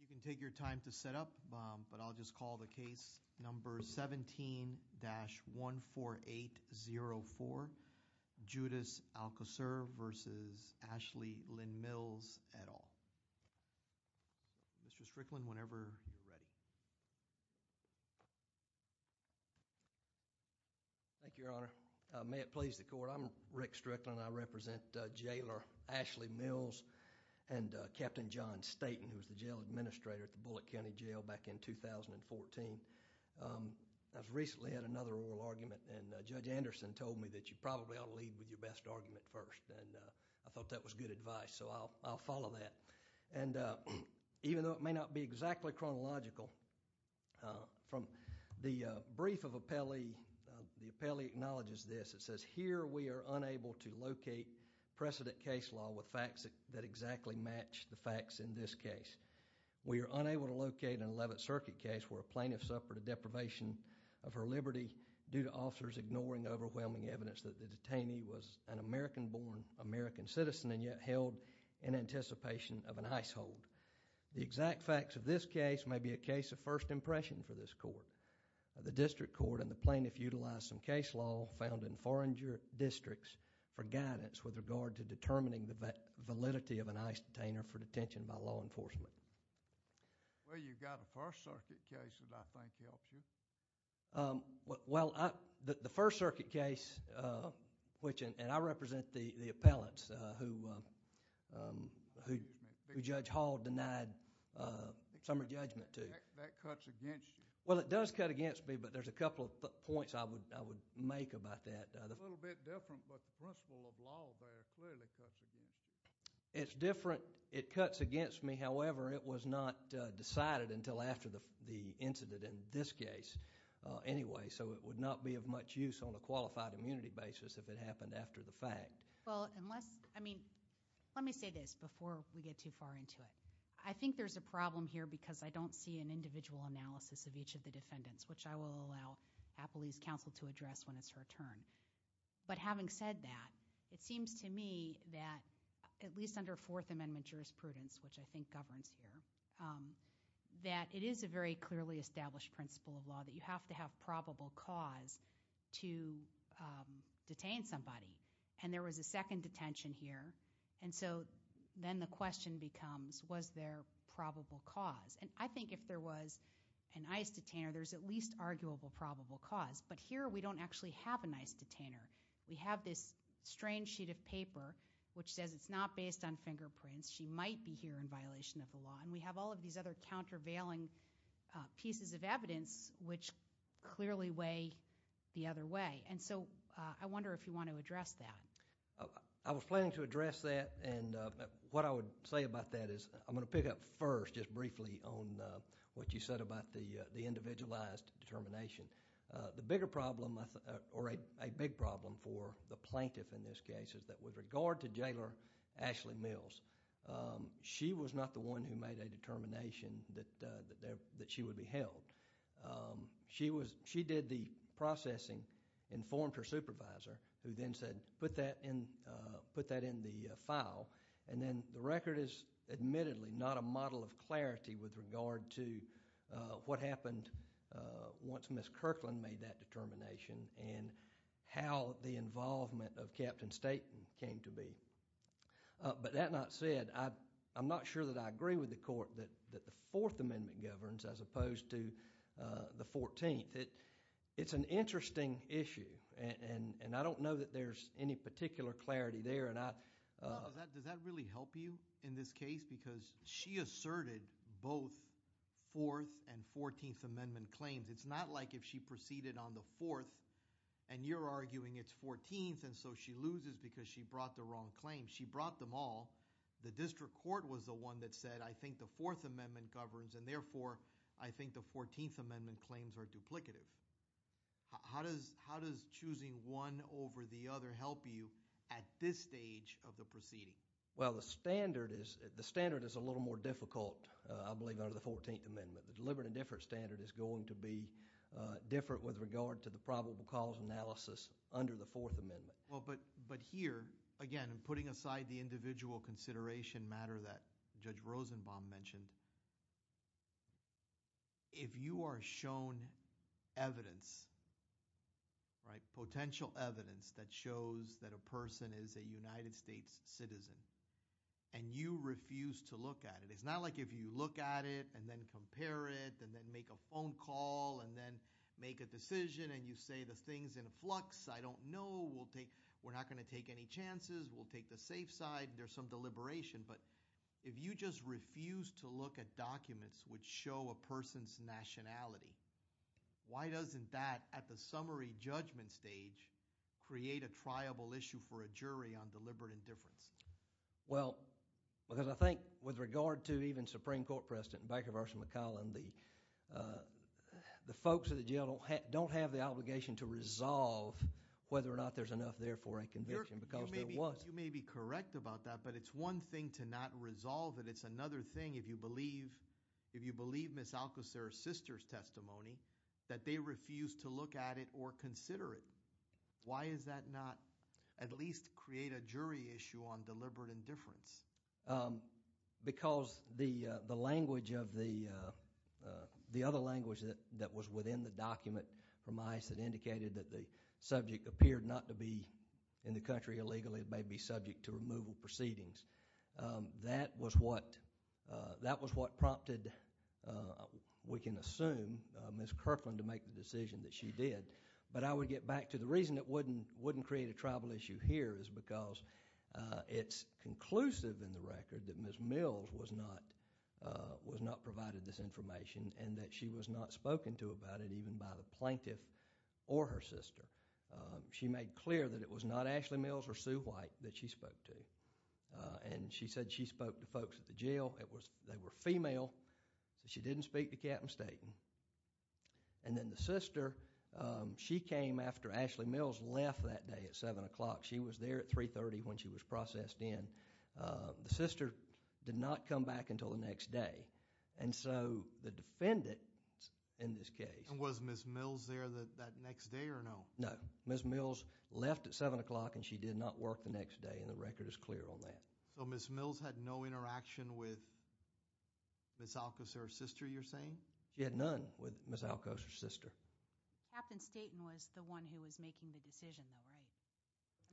You can take your time to set up but I'll just call the case number 17-14804 Judas Alcocer v. Ashley Lynn Mills et al. Mr. Strickland whenever you're ready. May it please the court, I'm Rick Strickland and I represent Jailer Ashley Mills and Captain John Staten who was the jail administrator at the Bullock County Jail back in 2014. I've recently had another oral argument and Judge Anderson told me that you probably ought to lead with your best argument first and I thought that was good advice so I'll follow that. Even though it may not be exactly chronological, from the brief of the appellee, the appellee acknowledges this. It says here we are unable to locate precedent case law with facts that exactly match the facts in this case. We are unable to locate an 11th Circuit case where a plaintiff suffered a deprivation of her liberty due to officers ignoring overwhelming evidence that the detainee was an American born American citizen and yet held in anticipation of an ice hold. The exact facts of this case may be a case of first impression for this court. The district court and the plaintiff utilized some case law found in foreign districts for guidance with regard to determining the validity of an ice detainer for detention by law enforcement. Well, you've got a First Circuit case that I think helps you. Well, the First Circuit case, and I represent the appellants who Judge Hall denied summer judgment to. That cuts against you. Well, it does cut against me but there's a couple of points I would make about that. It's a little bit different but the principle of law there clearly cuts against you. It's different. It cuts against me. However, it was not decided until after the incident in this case anyway so it would not be of much use on a qualified immunity basis if it happened after the fact. Well, unless, I mean, let me say this before we get too far into it. I think there's a problem here because I don't see an individual analysis of each of the defendants which I will allow Appley's counsel to address when it's her turn. But having said that, it seems to me that at least under Fourth Amendment jurisprudence which I think governs here, that it is a very clearly established principle of law that you have to have probable cause to detain somebody. And there was a second detention here and so then the question becomes was there probable cause? And I think if there was an ICE detainer, there's at least arguable probable cause. But here we don't actually have an ICE detainer. We have this strange sheet of paper which says it's not based on fingerprints. She might be here in violation of the law. And we have all of these other countervailing pieces of evidence which clearly weigh the other way. And so I wonder if you want to address that. I was planning to address that and what I would say about that is I'm going to pick up first just briefly on what you said about the individualized determination. The bigger problem or a big problem for the plaintiff in this case is that with regard to Jailor Ashley Mills, she was not the one who made a determination that she would be held. She did the processing, informed her supervisor who then said put that in the file and then the record is admittedly not a model of clarity with regard to what happened once Ms. Kirkland made that determination and how the involvement of Captain Staten came to be. But that not said, I'm not sure that I agree with the court that the Fourth Amendment governs as opposed to the Fourteenth. It's an interesting issue and I don't know that there's any particular clarity there. Does that really help you in this case? Because she asserted both Fourth and Fourteenth Amendment claims. It's not like if she proceeded on the Fourth and you're arguing it's Fourteenth and so she loses because she brought the wrong claim. She brought them all. The district court was the one that said I think the Fourth Amendment governs and therefore I think the Fourteenth Amendment claims are duplicative. How does choosing one over the other help you at this stage of the proceeding? Well the standard is a little more difficult I believe under the Fourteenth Amendment. The deliberate indifference standard is going to be different with regard to the probable cause analysis under the Fourth Amendment. But here again, putting aside the individual consideration matter that Judge Rosenbaum mentioned, if you are shown evidence, potential evidence that shows that a person is a United States citizen and you refuse to look at it, it's not like if you look at it and then compare it and then make a phone call and then make a decision and you say the thing's in a flux, I don't know, we're not going to take any chances, we'll take the safe side, there's some deliberation. But if you just refuse to look at documents which show a person's nationality, why doesn't that at the summary judgment stage create a triable issue for a jury on deliberate indifference? Well, because I think with regard to even Supreme Court President Baker v. McCollum, the folks at the jail don't have the obligation to resolve whether or not there's enough there for a conviction because there wasn't. You may be correct about that, but it's one thing to not resolve it, it's another thing if you believe Ms. Alcocer's sister's testimony that they refused to look at it or consider it. Why does that not at least create a jury issue on deliberate indifference? Because the other language that was within the document from ICE that indicated that the subject appeared not to be in the country illegally, it may be subject to removal proceedings. That was what prompted, we can assume, Ms. Kirkland to make the decision that she did. I would get back to the reason it wouldn't create a tribal issue here is because it's conclusive in the record that Ms. Mills was not provided this information and that she was not spoken to about it even by the plaintiff or her sister. She made clear that it was not Ashley Mills or Sue White that she spoke to. She said she spoke to folks at the jail, they were female, so she didn't speak to Captain Staten. And then the sister, she came after Ashley Mills left that day at 7 o'clock. She was there at 3.30 when she was processed in. The sister did not come back until the next day, and so the defendant in this case... And was Ms. Mills there that next day or no? No. Ms. Mills left at 7 o'clock and she did not work the next day and the record is clear on that. So Ms. Mills had no interaction with Ms. Alcoser's sister, you're saying? She had none with Ms. Alcoser's sister. Captain Staten was the one who was making the decision, though, right?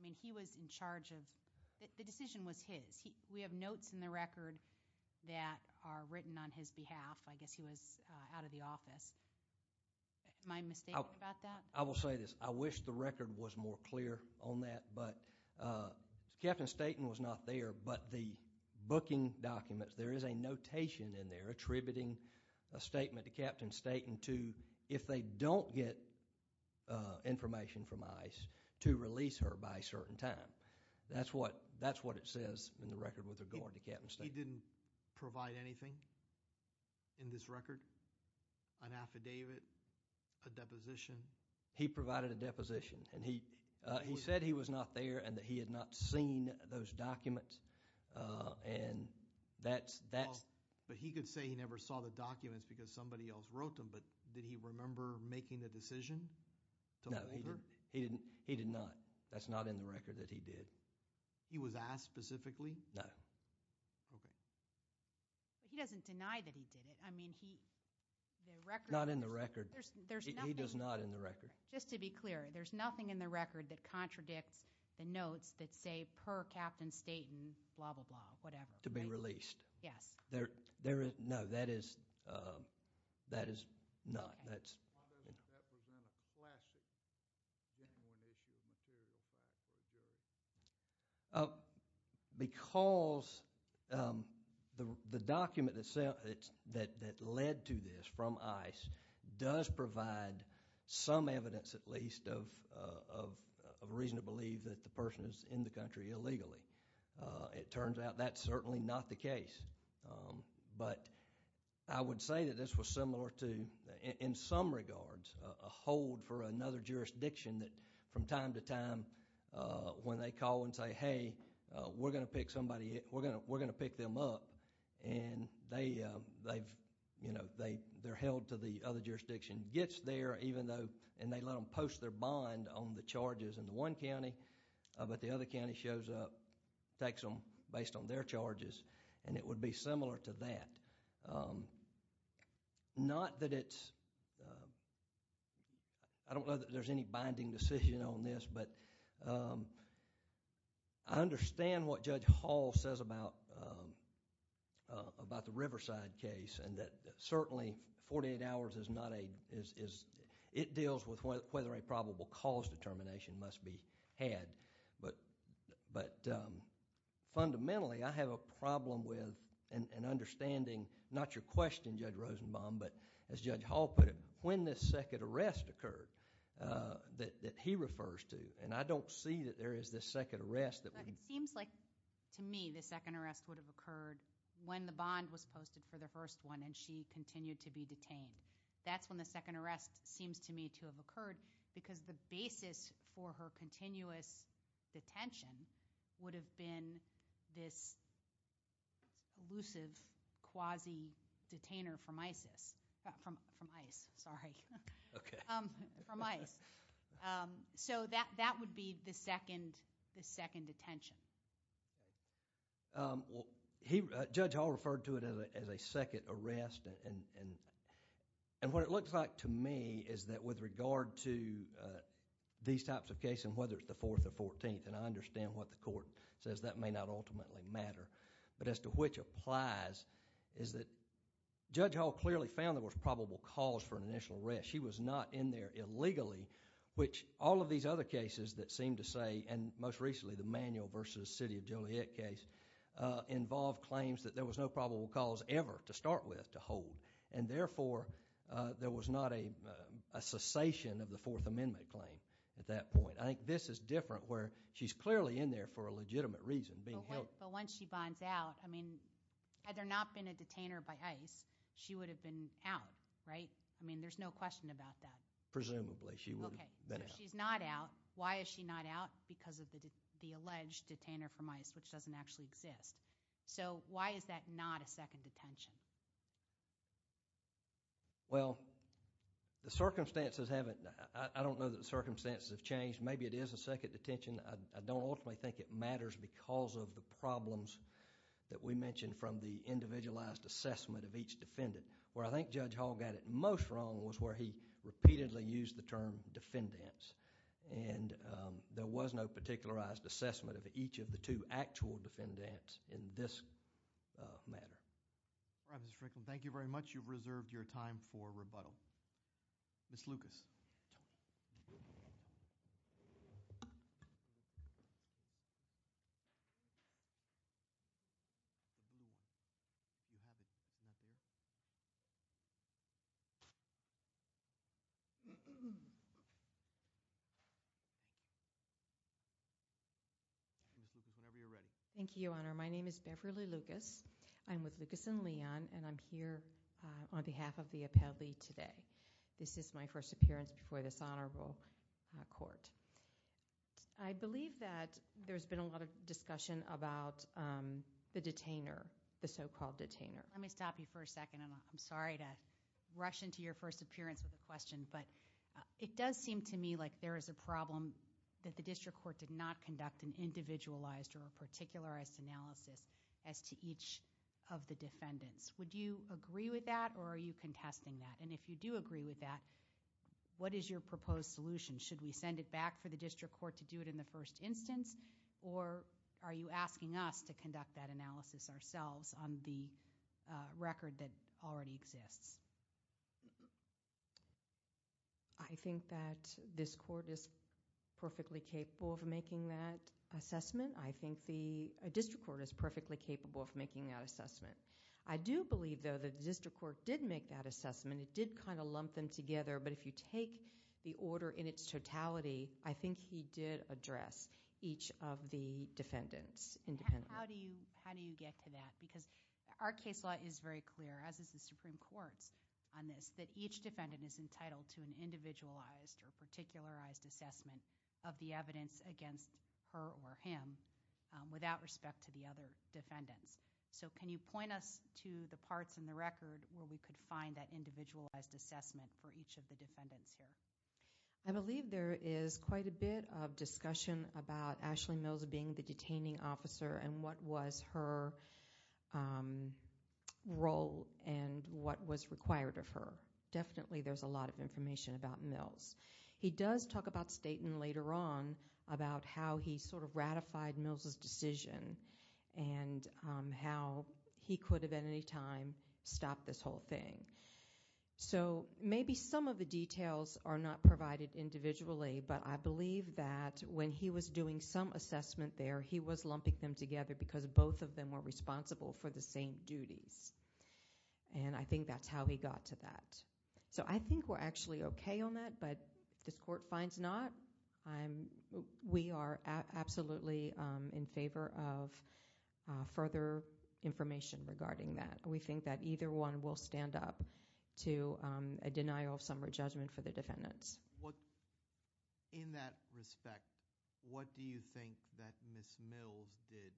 I mean, he was in charge of... the decision was his. We have notes in the record that are written on his behalf. I guess he was out of the office. Am I mistaken about that? I will say this, I wish the record was more clear on that, but Captain Staten was not there, but the booking documents, there is a notation in there attributing a statement to Captain Staten to, if they don't get information from ICE, to release her by a certain time. That's what it says in the record with regard to Captain Staten. He didn't provide anything in this record, an affidavit, a deposition? He provided a deposition, and he said he was not there, and that he had not seen those documents, and that's... But he could say he never saw the documents because somebody else wrote them, but did he remember making the decision to release her? No, he did not. That's not in the record that he did. He was asked specifically? No. Okay. He doesn't deny that he did it. I mean, he... the record... Not in the record. There's nothing... He does not in the record. Just to be clear, there's nothing in the record that contradicts the notes that say, per Captain Staten, blah, blah, blah, whatever, right? To be released. Yes. There is... No, that is not. That's... Okay. Why doesn't that present a flash that he didn't want to issue a material, if that's what it did? Because the document that led to this, from ICE, does provide some evidence, at least, of a reason to believe that the person is in the country illegally. It turns out that's certainly not the case. But I would say that this was similar to, in some regards, a hold for another jurisdiction that from time to time, when they call and say, hey, we're going to pick somebody... we're going to pick them up, and they're held to the other jurisdiction, gets there even though they let them post their bond on the charges in the one county, but the other county shows up, takes them based on their charges, and it would be similar to that. Not that it's... I don't know that there's any binding decision on this, but I understand what Judge Hall says about the Riverside case, and that certainly 48 hours is not a... it deals with whether a probable cause determination must be had. But fundamentally, I have a problem with an understanding, not your question, Judge Rosenbaum, but as Judge Hall put it, when this second arrest occurred that he refers to, and I don't see that there is this second arrest that... But it seems like, to me, the second arrest would have occurred when the bond was posted for the first one, and she continued to be detained. That's when the second arrest seems to me to have occurred, because the basis for her continuous detention would have been this elusive quasi-detainer from ICE. So that would be the second detention. Judge Hall referred to it as a second arrest, and what it looks like to me is that with regard to these types of cases, whether it's the fourth or fourteenth, and I understand what the court says, that may not ultimately matter, but as to which applies, is that Judge Hall clearly found there was probable cause for an initial arrest. She was not in there illegally, which all of these other cases that seem to say, and most recently the Manuel v. City of Joliet case, involved claims that there was no probable cause ever, to start with, to hold, and therefore there was not a cessation of the Fourth Amendment claim at that point. I think this is different where she's clearly in there for a legitimate reason, being held... But once she bonds out, I mean, had there not been a detainer by ICE, she would have been out, right? I mean, there's no question about that. Presumably, she would have been out. Okay, so she's not out. Why is she not out? Because of the alleged detainer from ICE, which doesn't actually exist. So, why is that not a second detention? Well, the circumstances haven't... I don't know that the circumstances have changed. Maybe it is a second detention. I don't ultimately think it matters because of the problems that we mentioned from the individualized assessment of each defendant. Where I think Judge Hall got it most wrong was where he repeatedly used the term defendants and there was no particularized assessment of each of the two actual defendants in this matter. All right, Mr. Frickland. Thank you very much. You've reserved your time for rebuttal. Ms. Lucas. Whenever you're ready. Thank you, Your Honor. My name is Beverly Lucas. I'm with Lucas and Leon and I'm here on behalf of the appellee today. This is my first appearance before this honorable court. I believe that there's been a lot of discussion about the detainer, the so-called detainer. Let me stop you for a second and I'm sorry to rush into your first appearance with a question, but it does seem to me like there is a problem that the district court did not conduct an individualized or a particularized analysis as to each of the defendants. Would you agree with that or are you contesting that? And if you do agree with that, what is your proposed solution? Should we send it back for the district court to do it in the first instance or are you asking us to conduct that analysis ourselves on the record that already exists? I think that this court is perfectly capable of making that assessment. I think the district court is perfectly capable of making that assessment. I do believe though that the district court did make that assessment. It did kind of lump them together, but if you take the order in its totality, I think he did address each of the defendants independently. How do you get to that? Because our case law is very clear, as is the Supreme Court's on this, that each defendant is entitled to an individualized or particularized assessment of the evidence against her or him without respect to the other defendants. So can you point us to the parts in the record where we could find that individualized assessment for each of the defendants here? I believe there is quite a bit of discussion about Ashley Mills being the detaining officer and what was her role and what was required of her. Definitely there's a lot of information about Mills. He does talk about Staten later on about how he sort of ratified Mills' decision and how he could have at any time stopped this whole thing. So maybe some of the details are not provided individually, but I believe that when he was doing some assessment there, he was lumping them together because both of them were responsible for the same duties. And I think that's how he got to that. So I think we're actually okay on that, but if this court finds not, we are absolutely in favor of further information regarding that. We think that either one will stand up to a denial of summary judgment for the defendants. In that respect, what do you think that Ms. Mills did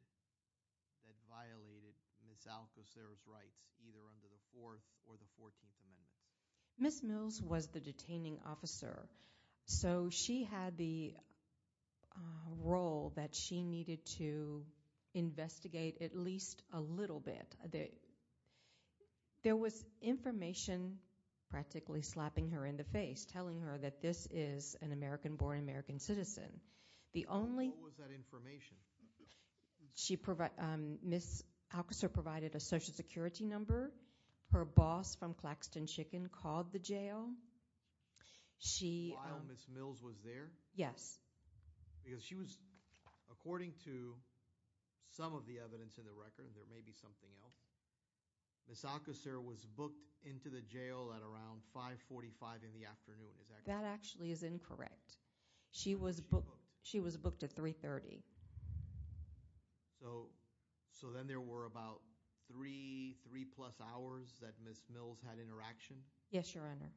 that violated Ms. Alcocer's rights either under the Fourth or the Fourteenth Amendments? Ms. Mills was the detaining officer, so she had the role that she needed to investigate at least a little bit. There was information practically slapping her in the face, telling her that this is an American-born American citizen. What was that information? Ms. Alcocer provided a social security number. Her boss from Claxton Chicken called the jail. While Ms. Mills was there? Yes. Because she was, according to some of the evidence in the record, there may be something else, Ms. Alcocer was booked into the jail at around 5.45 in the afternoon. That actually is incorrect. She was booked at 3.30. So then there were about three plus hours that Ms. Mills had interaction? Yes, Your Honor.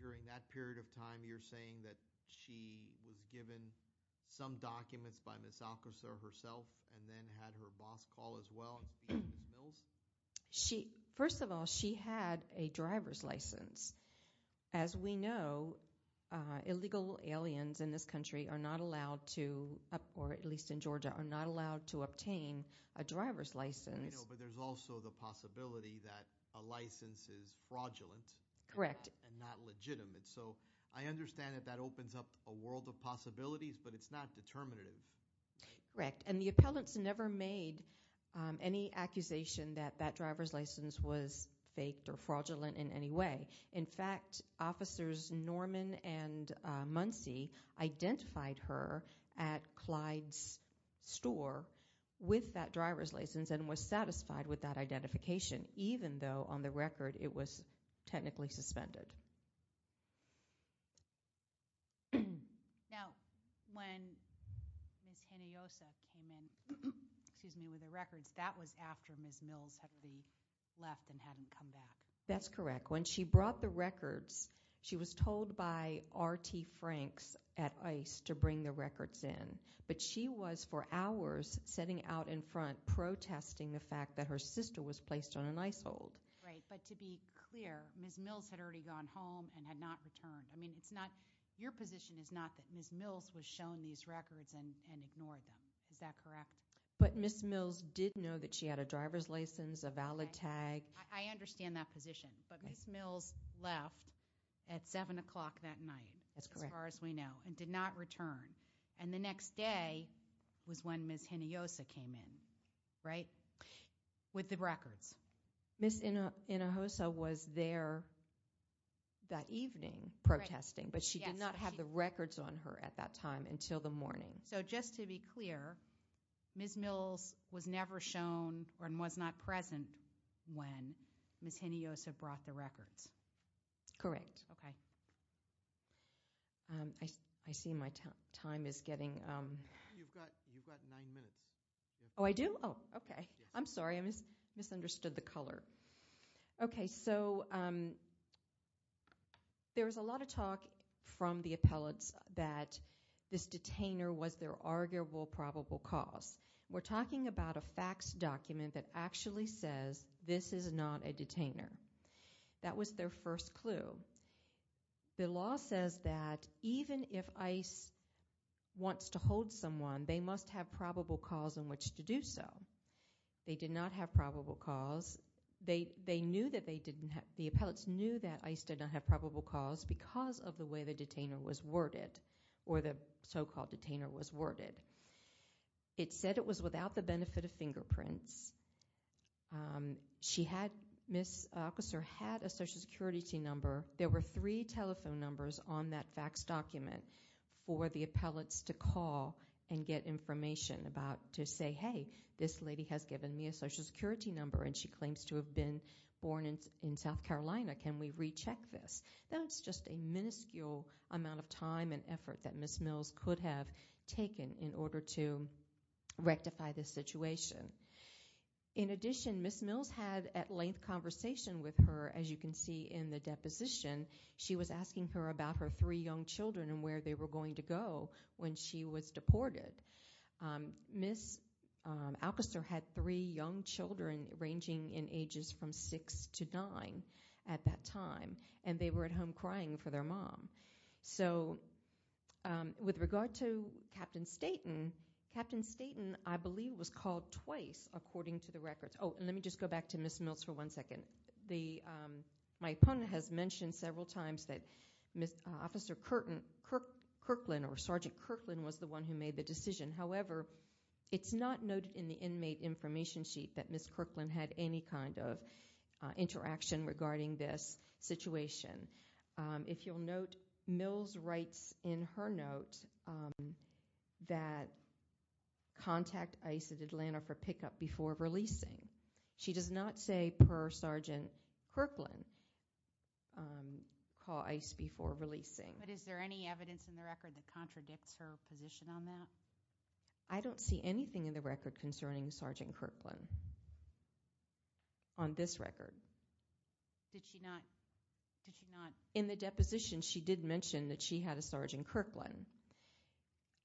During that period of time, you're saying that she was given some documents by Ms. Alcocer herself and then had her boss call as well to speak to Ms. Mills? First of all, she had a driver's license. As we know, illegal aliens in this country are not allowed to, or at least in Georgia, are not allowed to obtain a driver's license. I know, but there's also the possibility that a license is fraudulent. Correct. And not legitimate. So I understand that that opens up a world of possibilities, but it's not determinative. Correct. And the appellants never made any accusation that that driver's license was faked or In fact, officers Norman and Muncy identified her at Clyde's store with that driver's license and was satisfied with that identification, even though on the record it was technically suspended. Now, when Ms. Hinojosa came in with the records, that was after Ms. Mills had already left and hadn't come back. That's correct. When she brought the records, she was told by R.T. Franks at ICE to bring the records in, but she was for hours sitting out in front protesting the fact that her sister was placed on an ICE hold. Right, but to be clear, Ms. Mills had already gone home and had not returned. Your position is not that Ms. Mills was shown these records and ignored them. Is that correct? But Ms. Mills did know that she had a driver's license, a valid tag. I understand that position, but Ms. Mills left at 7 o'clock that night. That's correct. As far as we know, and did not return. And the next day was when Ms. Hinojosa came in, right, with the records. Ms. Hinojosa was there that evening protesting, but she did not have the records on her at that time until the morning. So just to be clear, Ms. Mills was never shown and was not present when Ms. Hinojosa brought the records. Correct. Okay. I see my time is getting – You've got nine minutes. Oh, I do? Oh, okay. I'm sorry. I misunderstood the color. Okay, so there was a lot of talk from the appellants that this detainer was their arguable probable cause. We're talking about a facts document that actually says this is not a detainer. That was their first clue. The law says that even if ICE wants to hold someone, they must have probable cause in which to do so. They did not have probable cause. They knew that they didn't have – the appellants knew that ICE did not have probable cause because of the way the detainer was worded or the so-called detainer was worded. It said it was without the benefit of fingerprints. She had – Ms. Hinojosa had a Social Security number. There were three telephone numbers on that facts document for the appellants to call and get information about to say, hey, this lady has given me a Social Security number, and she claims to have been born in South Carolina. Can we recheck this? That's just a minuscule amount of time and effort that Ms. Mills could have taken in order to rectify this situation. In addition, Ms. Mills had at length conversation with her, as you can see in the deposition. She was asking her about her three young children and where they were going to go when she was deported. Ms. Alcaster had three young children ranging in ages from six to nine at that time, and they were at home crying for their mom. So with regard to Captain Staten, Captain Staten, I believe, was called twice according to the records. Oh, and let me just go back to Ms. Mills for one second. My opponent has mentioned several times that Officer Kirkland or Sergeant Kirkland was the one who made the decision. However, it's not noted in the inmate information sheet that Ms. Kirkland had any kind of interaction regarding this situation. If you'll note, Mills writes in her note that contact ICE at Atlanta for pickup before releasing. She does not say per Sergeant Kirkland, call ICE before releasing. But is there any evidence in the record that contradicts her position on that? I don't see anything in the record concerning Sergeant Kirkland on this record. Did she not? In the deposition, she did mention that she had a Sergeant Kirkland.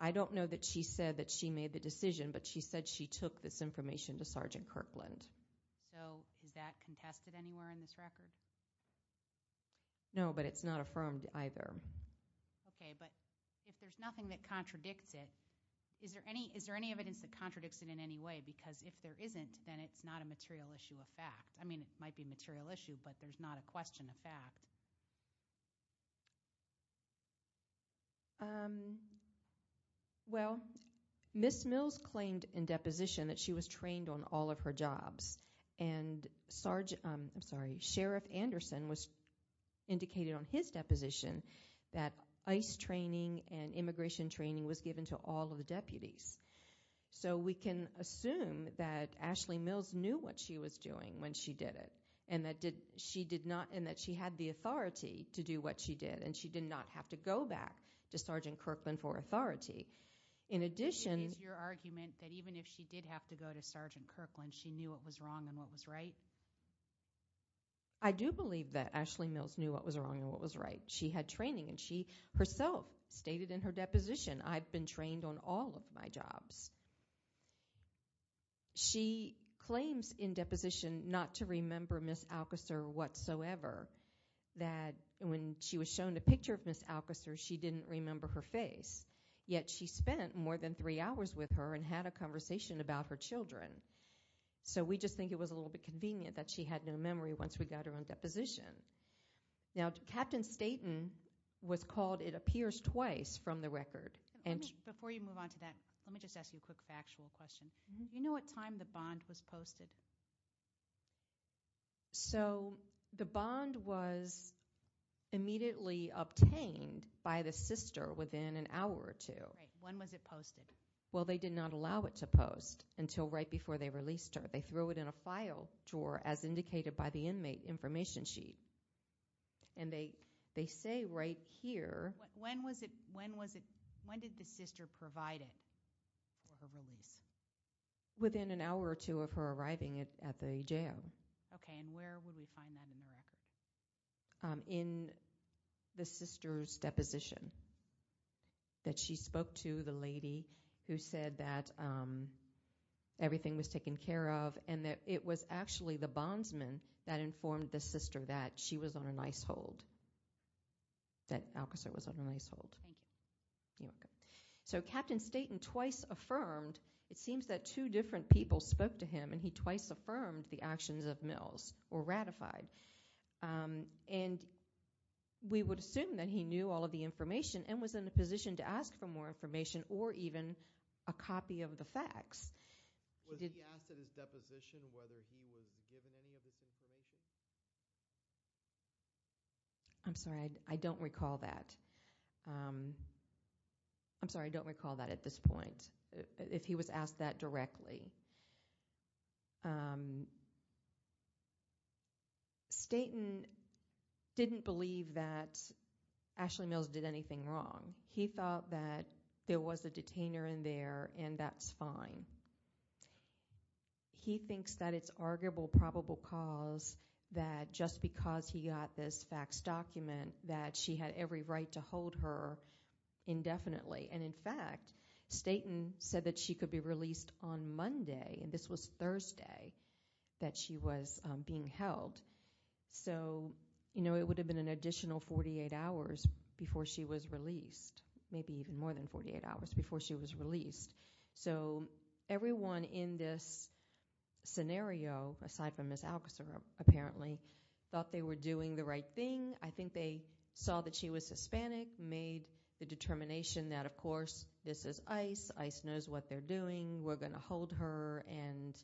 I don't know that she said that she made the decision, but she said she took this information to Sergeant Kirkland. So is that contested anywhere in this record? No, but it's not affirmed either. Okay, but if there's nothing that contradicts it, is there any evidence that contradicts it in any way? Because if there isn't, then it's not a material issue of fact. I mean, it might be a material issue, but there's not a question of fact. Well, Ms. Mills claimed in deposition that she was trained on all of her jobs. And Sheriff Anderson indicated on his deposition that ICE training and immigration training was given to all of the deputies. So we can assume that Ashley Mills knew what she was doing when she did it, and that she had the authority to do what she did, and she did not have to go back to Sergeant Kirkland for authority. It is your argument that even if she did have to go to Sergeant Kirkland, she knew what was wrong and what was right? I do believe that Ashley Mills knew what was wrong and what was right. She had training, and she herself stated in her deposition, I've been trained on all of my jobs. She claims in deposition not to remember Ms. Alcaster whatsoever, that when she was shown a picture of Ms. Alcaster, she didn't remember her face. Yet she spent more than three hours with her and had a conversation about her children. So we just think it was a little bit convenient that she had no memory once we got her on deposition. Now, Captain Staten was called, it appears, twice from the record. Before you move on to that, let me just ask you a quick factual question. Do you know what time the bond was posted? So the bond was immediately obtained by the sister within an hour or two. Right. When was it posted? Well, they did not allow it to post until right before they released her. But they threw it in a file drawer as indicated by the inmate information sheet. And they say right here. When did the sister provide it for her release? Within an hour or two of her arriving at the jail. Okay. And where would we find that in the record? In the sister's deposition. That she spoke to the lady who said that everything was taken care of and that it was actually the bondsman that informed the sister that she was on a nice hold. That Alcaster was on a nice hold. Thank you. You're welcome. So Captain Staten twice affirmed, it seems that two different people spoke to him and he twice affirmed the actions of Mills or ratified. And we would assume that he knew all of the information and was in a position to ask for more information or even a copy of the facts. Was he asked at his deposition whether he was given any of this information? I'm sorry. I don't recall that. I'm sorry. I don't recall that at this point. If he was asked that directly. Staten didn't believe that Ashley Mills did anything wrong. He thought that there was a detainer in there and that's fine. He thinks that it's arguable probable cause that just because he got this fax document that she had every right to hold her indefinitely. And, in fact, Staten said that she could be released on Monday, and this was Thursday that she was being held. So it would have been an additional 48 hours before she was released, maybe even more than 48 hours before she was released. So everyone in this scenario, aside from Ms. Alcaster apparently, thought they were doing the right thing. I think they saw that she was Hispanic, made the determination that, of course, this is ICE. ICE knows what they're doing. We're going to hold her. And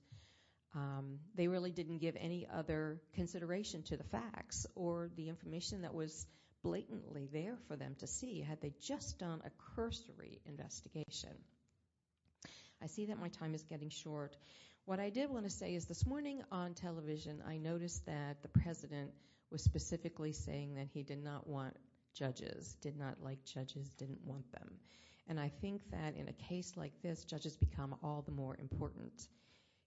they really didn't give any other consideration to the facts or the information that was blatantly there for them to see had they just done a cursory investigation. I see that my time is getting short. What I did want to say is this morning on television, I noticed that the president was specifically saying that he did not want judges, did not like judges, didn't want them. And I think that in a case like this, judges become all the more important,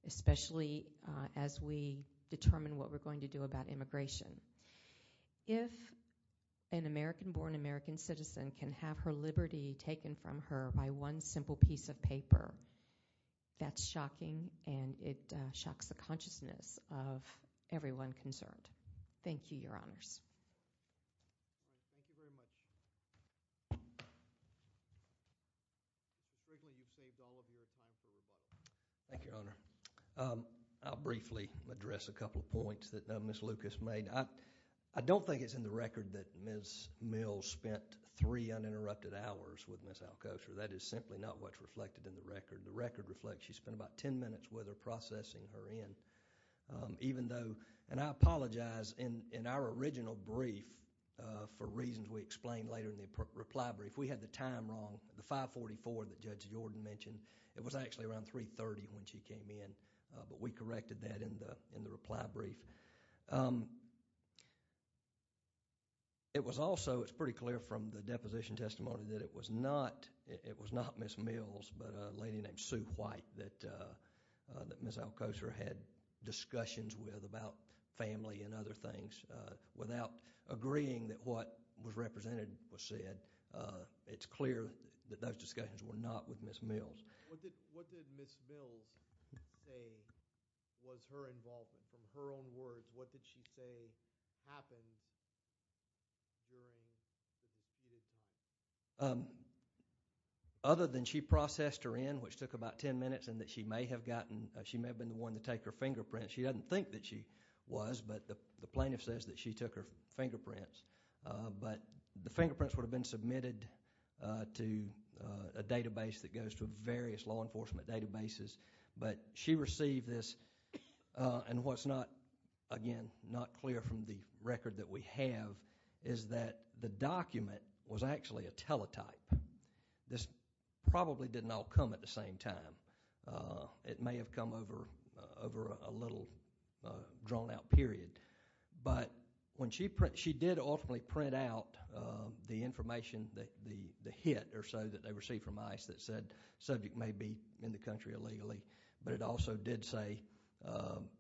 especially as we determine what we're going to do about immigration. If an American-born American citizen can have her liberty taken from her by one simple piece of paper, that's shocking, and it shocks the consciousness of everyone concerned. Thank you, Your Honors. Thank you very much. Ms. Brinkley, you've saved all of your time for rebuttal. Thank you, Your Honor. I'll briefly address a couple of points that Ms. Lucas made. I don't think it's in the record that Ms. Mills spent three uninterrupted hours with Ms. Alcoster. That is simply not what's reflected in the record. The record reflects she spent about ten minutes with her, processing her in. And I apologize, in our original brief, for reasons we explained later in the reply brief, we had the time wrong, the 544 that Judge Jordan mentioned. It was actually around 3.30 when she came in, but we corrected that in the reply brief. It's pretty clear from the deposition testimony that it was not Ms. Mills, but a lady named Sue White that Ms. Alcoster had discussions with about family and other things. Without agreeing that what was represented was said, it's clear that those discussions were not with Ms. Mills. What did Ms. Mills say was her involvement? From her own words, what did she say happened during the deputed time? Other than she processed her in, which took about ten minutes, and that she may have been the one to take her fingerprints. She doesn't think that she was, but the plaintiff says that she took her fingerprints. But the fingerprints would have been submitted to a database that goes to various law enforcement databases. But she received this, and what's not clear from the record that we have is that the document was actually a teletype. This probably didn't all come at the same time. It may have come over a little drawn-out period. But she did ultimately print out the information, the hit or so, that they received from ICE that said the subject may be in the country illegally, but it also did say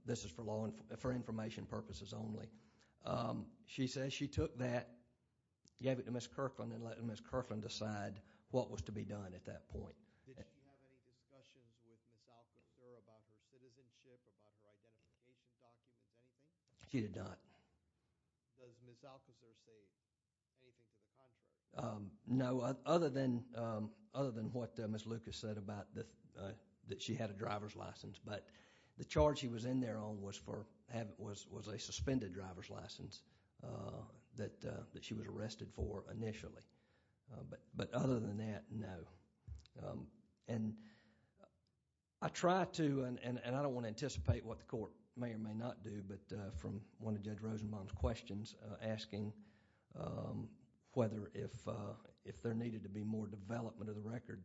this is for information purposes only. She says she took that, gave it to Ms. Kirkland, and let Ms. Kirkland decide what was to be done at that point. Did she have any discussions with Ms. Alcazar about her citizenship, about her identification documents, anything? She did not. Does Ms. Alcazar say anything to the contrary? No, other than what Ms. Lucas said about that she had a driver's license. But the charge she was in there on was a suspended driver's license that she was arrested for initially. But other than that, no. I try to, and I don't want to anticipate what the court may or may not do, but from one of Judge Rosenbaum's questions, asking whether if there needed to be more development of the record,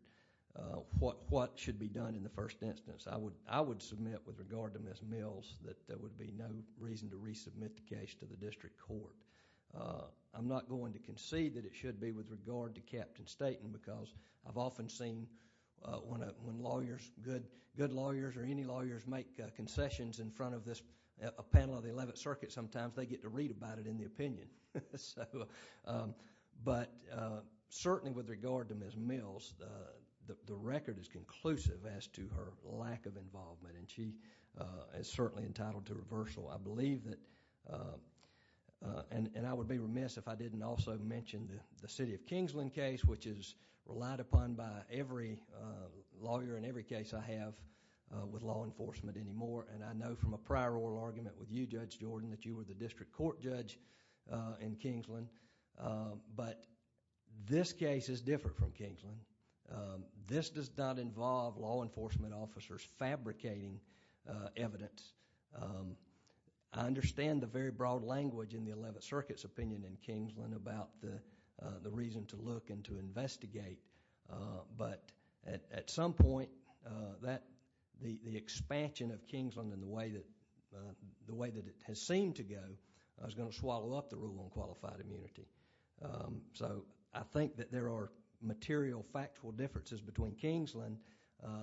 what should be done in the first instance. I would submit with regard to Ms. Mills that there would be no reason to resubmit the case to the district court. I'm not going to concede that it should be with regard to Captain Staten because I've often seen when lawyers, good lawyers or any lawyers, make concessions in front of this panel of the 11th Circuit, sometimes they get to read about it in the opinion. But certainly with regard to Ms. Mills, the record is conclusive as to her lack of involvement and she is certainly entitled to reversal. I believe that, and I would be remiss if I didn't also mention the City of Kingsland case which is relied upon by every lawyer in every case I have with law enforcement anymore. I know from a prior oral argument with you, Judge Jordan, that you were the district court judge in Kingsland. But this case is different from Kingsland. This does not involve law enforcement officers fabricating evidence. I understand the very broad language in the 11th Circuit's opinion in Kingsland about the reason to look and to investigate. But at some point, the expansion of Kingsland and the way that it has seemed to go is going to swallow up the rule on qualified immunity. So I think that there are material factual differences between Kingsland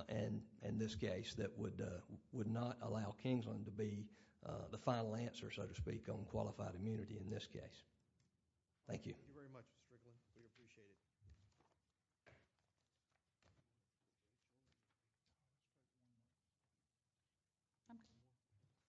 and this case that would not allow Kingsland to be the final answer, so to speak, on qualified immunity in this case. Thank you. Thank you very much, Mr. Strickland. We appreciate it.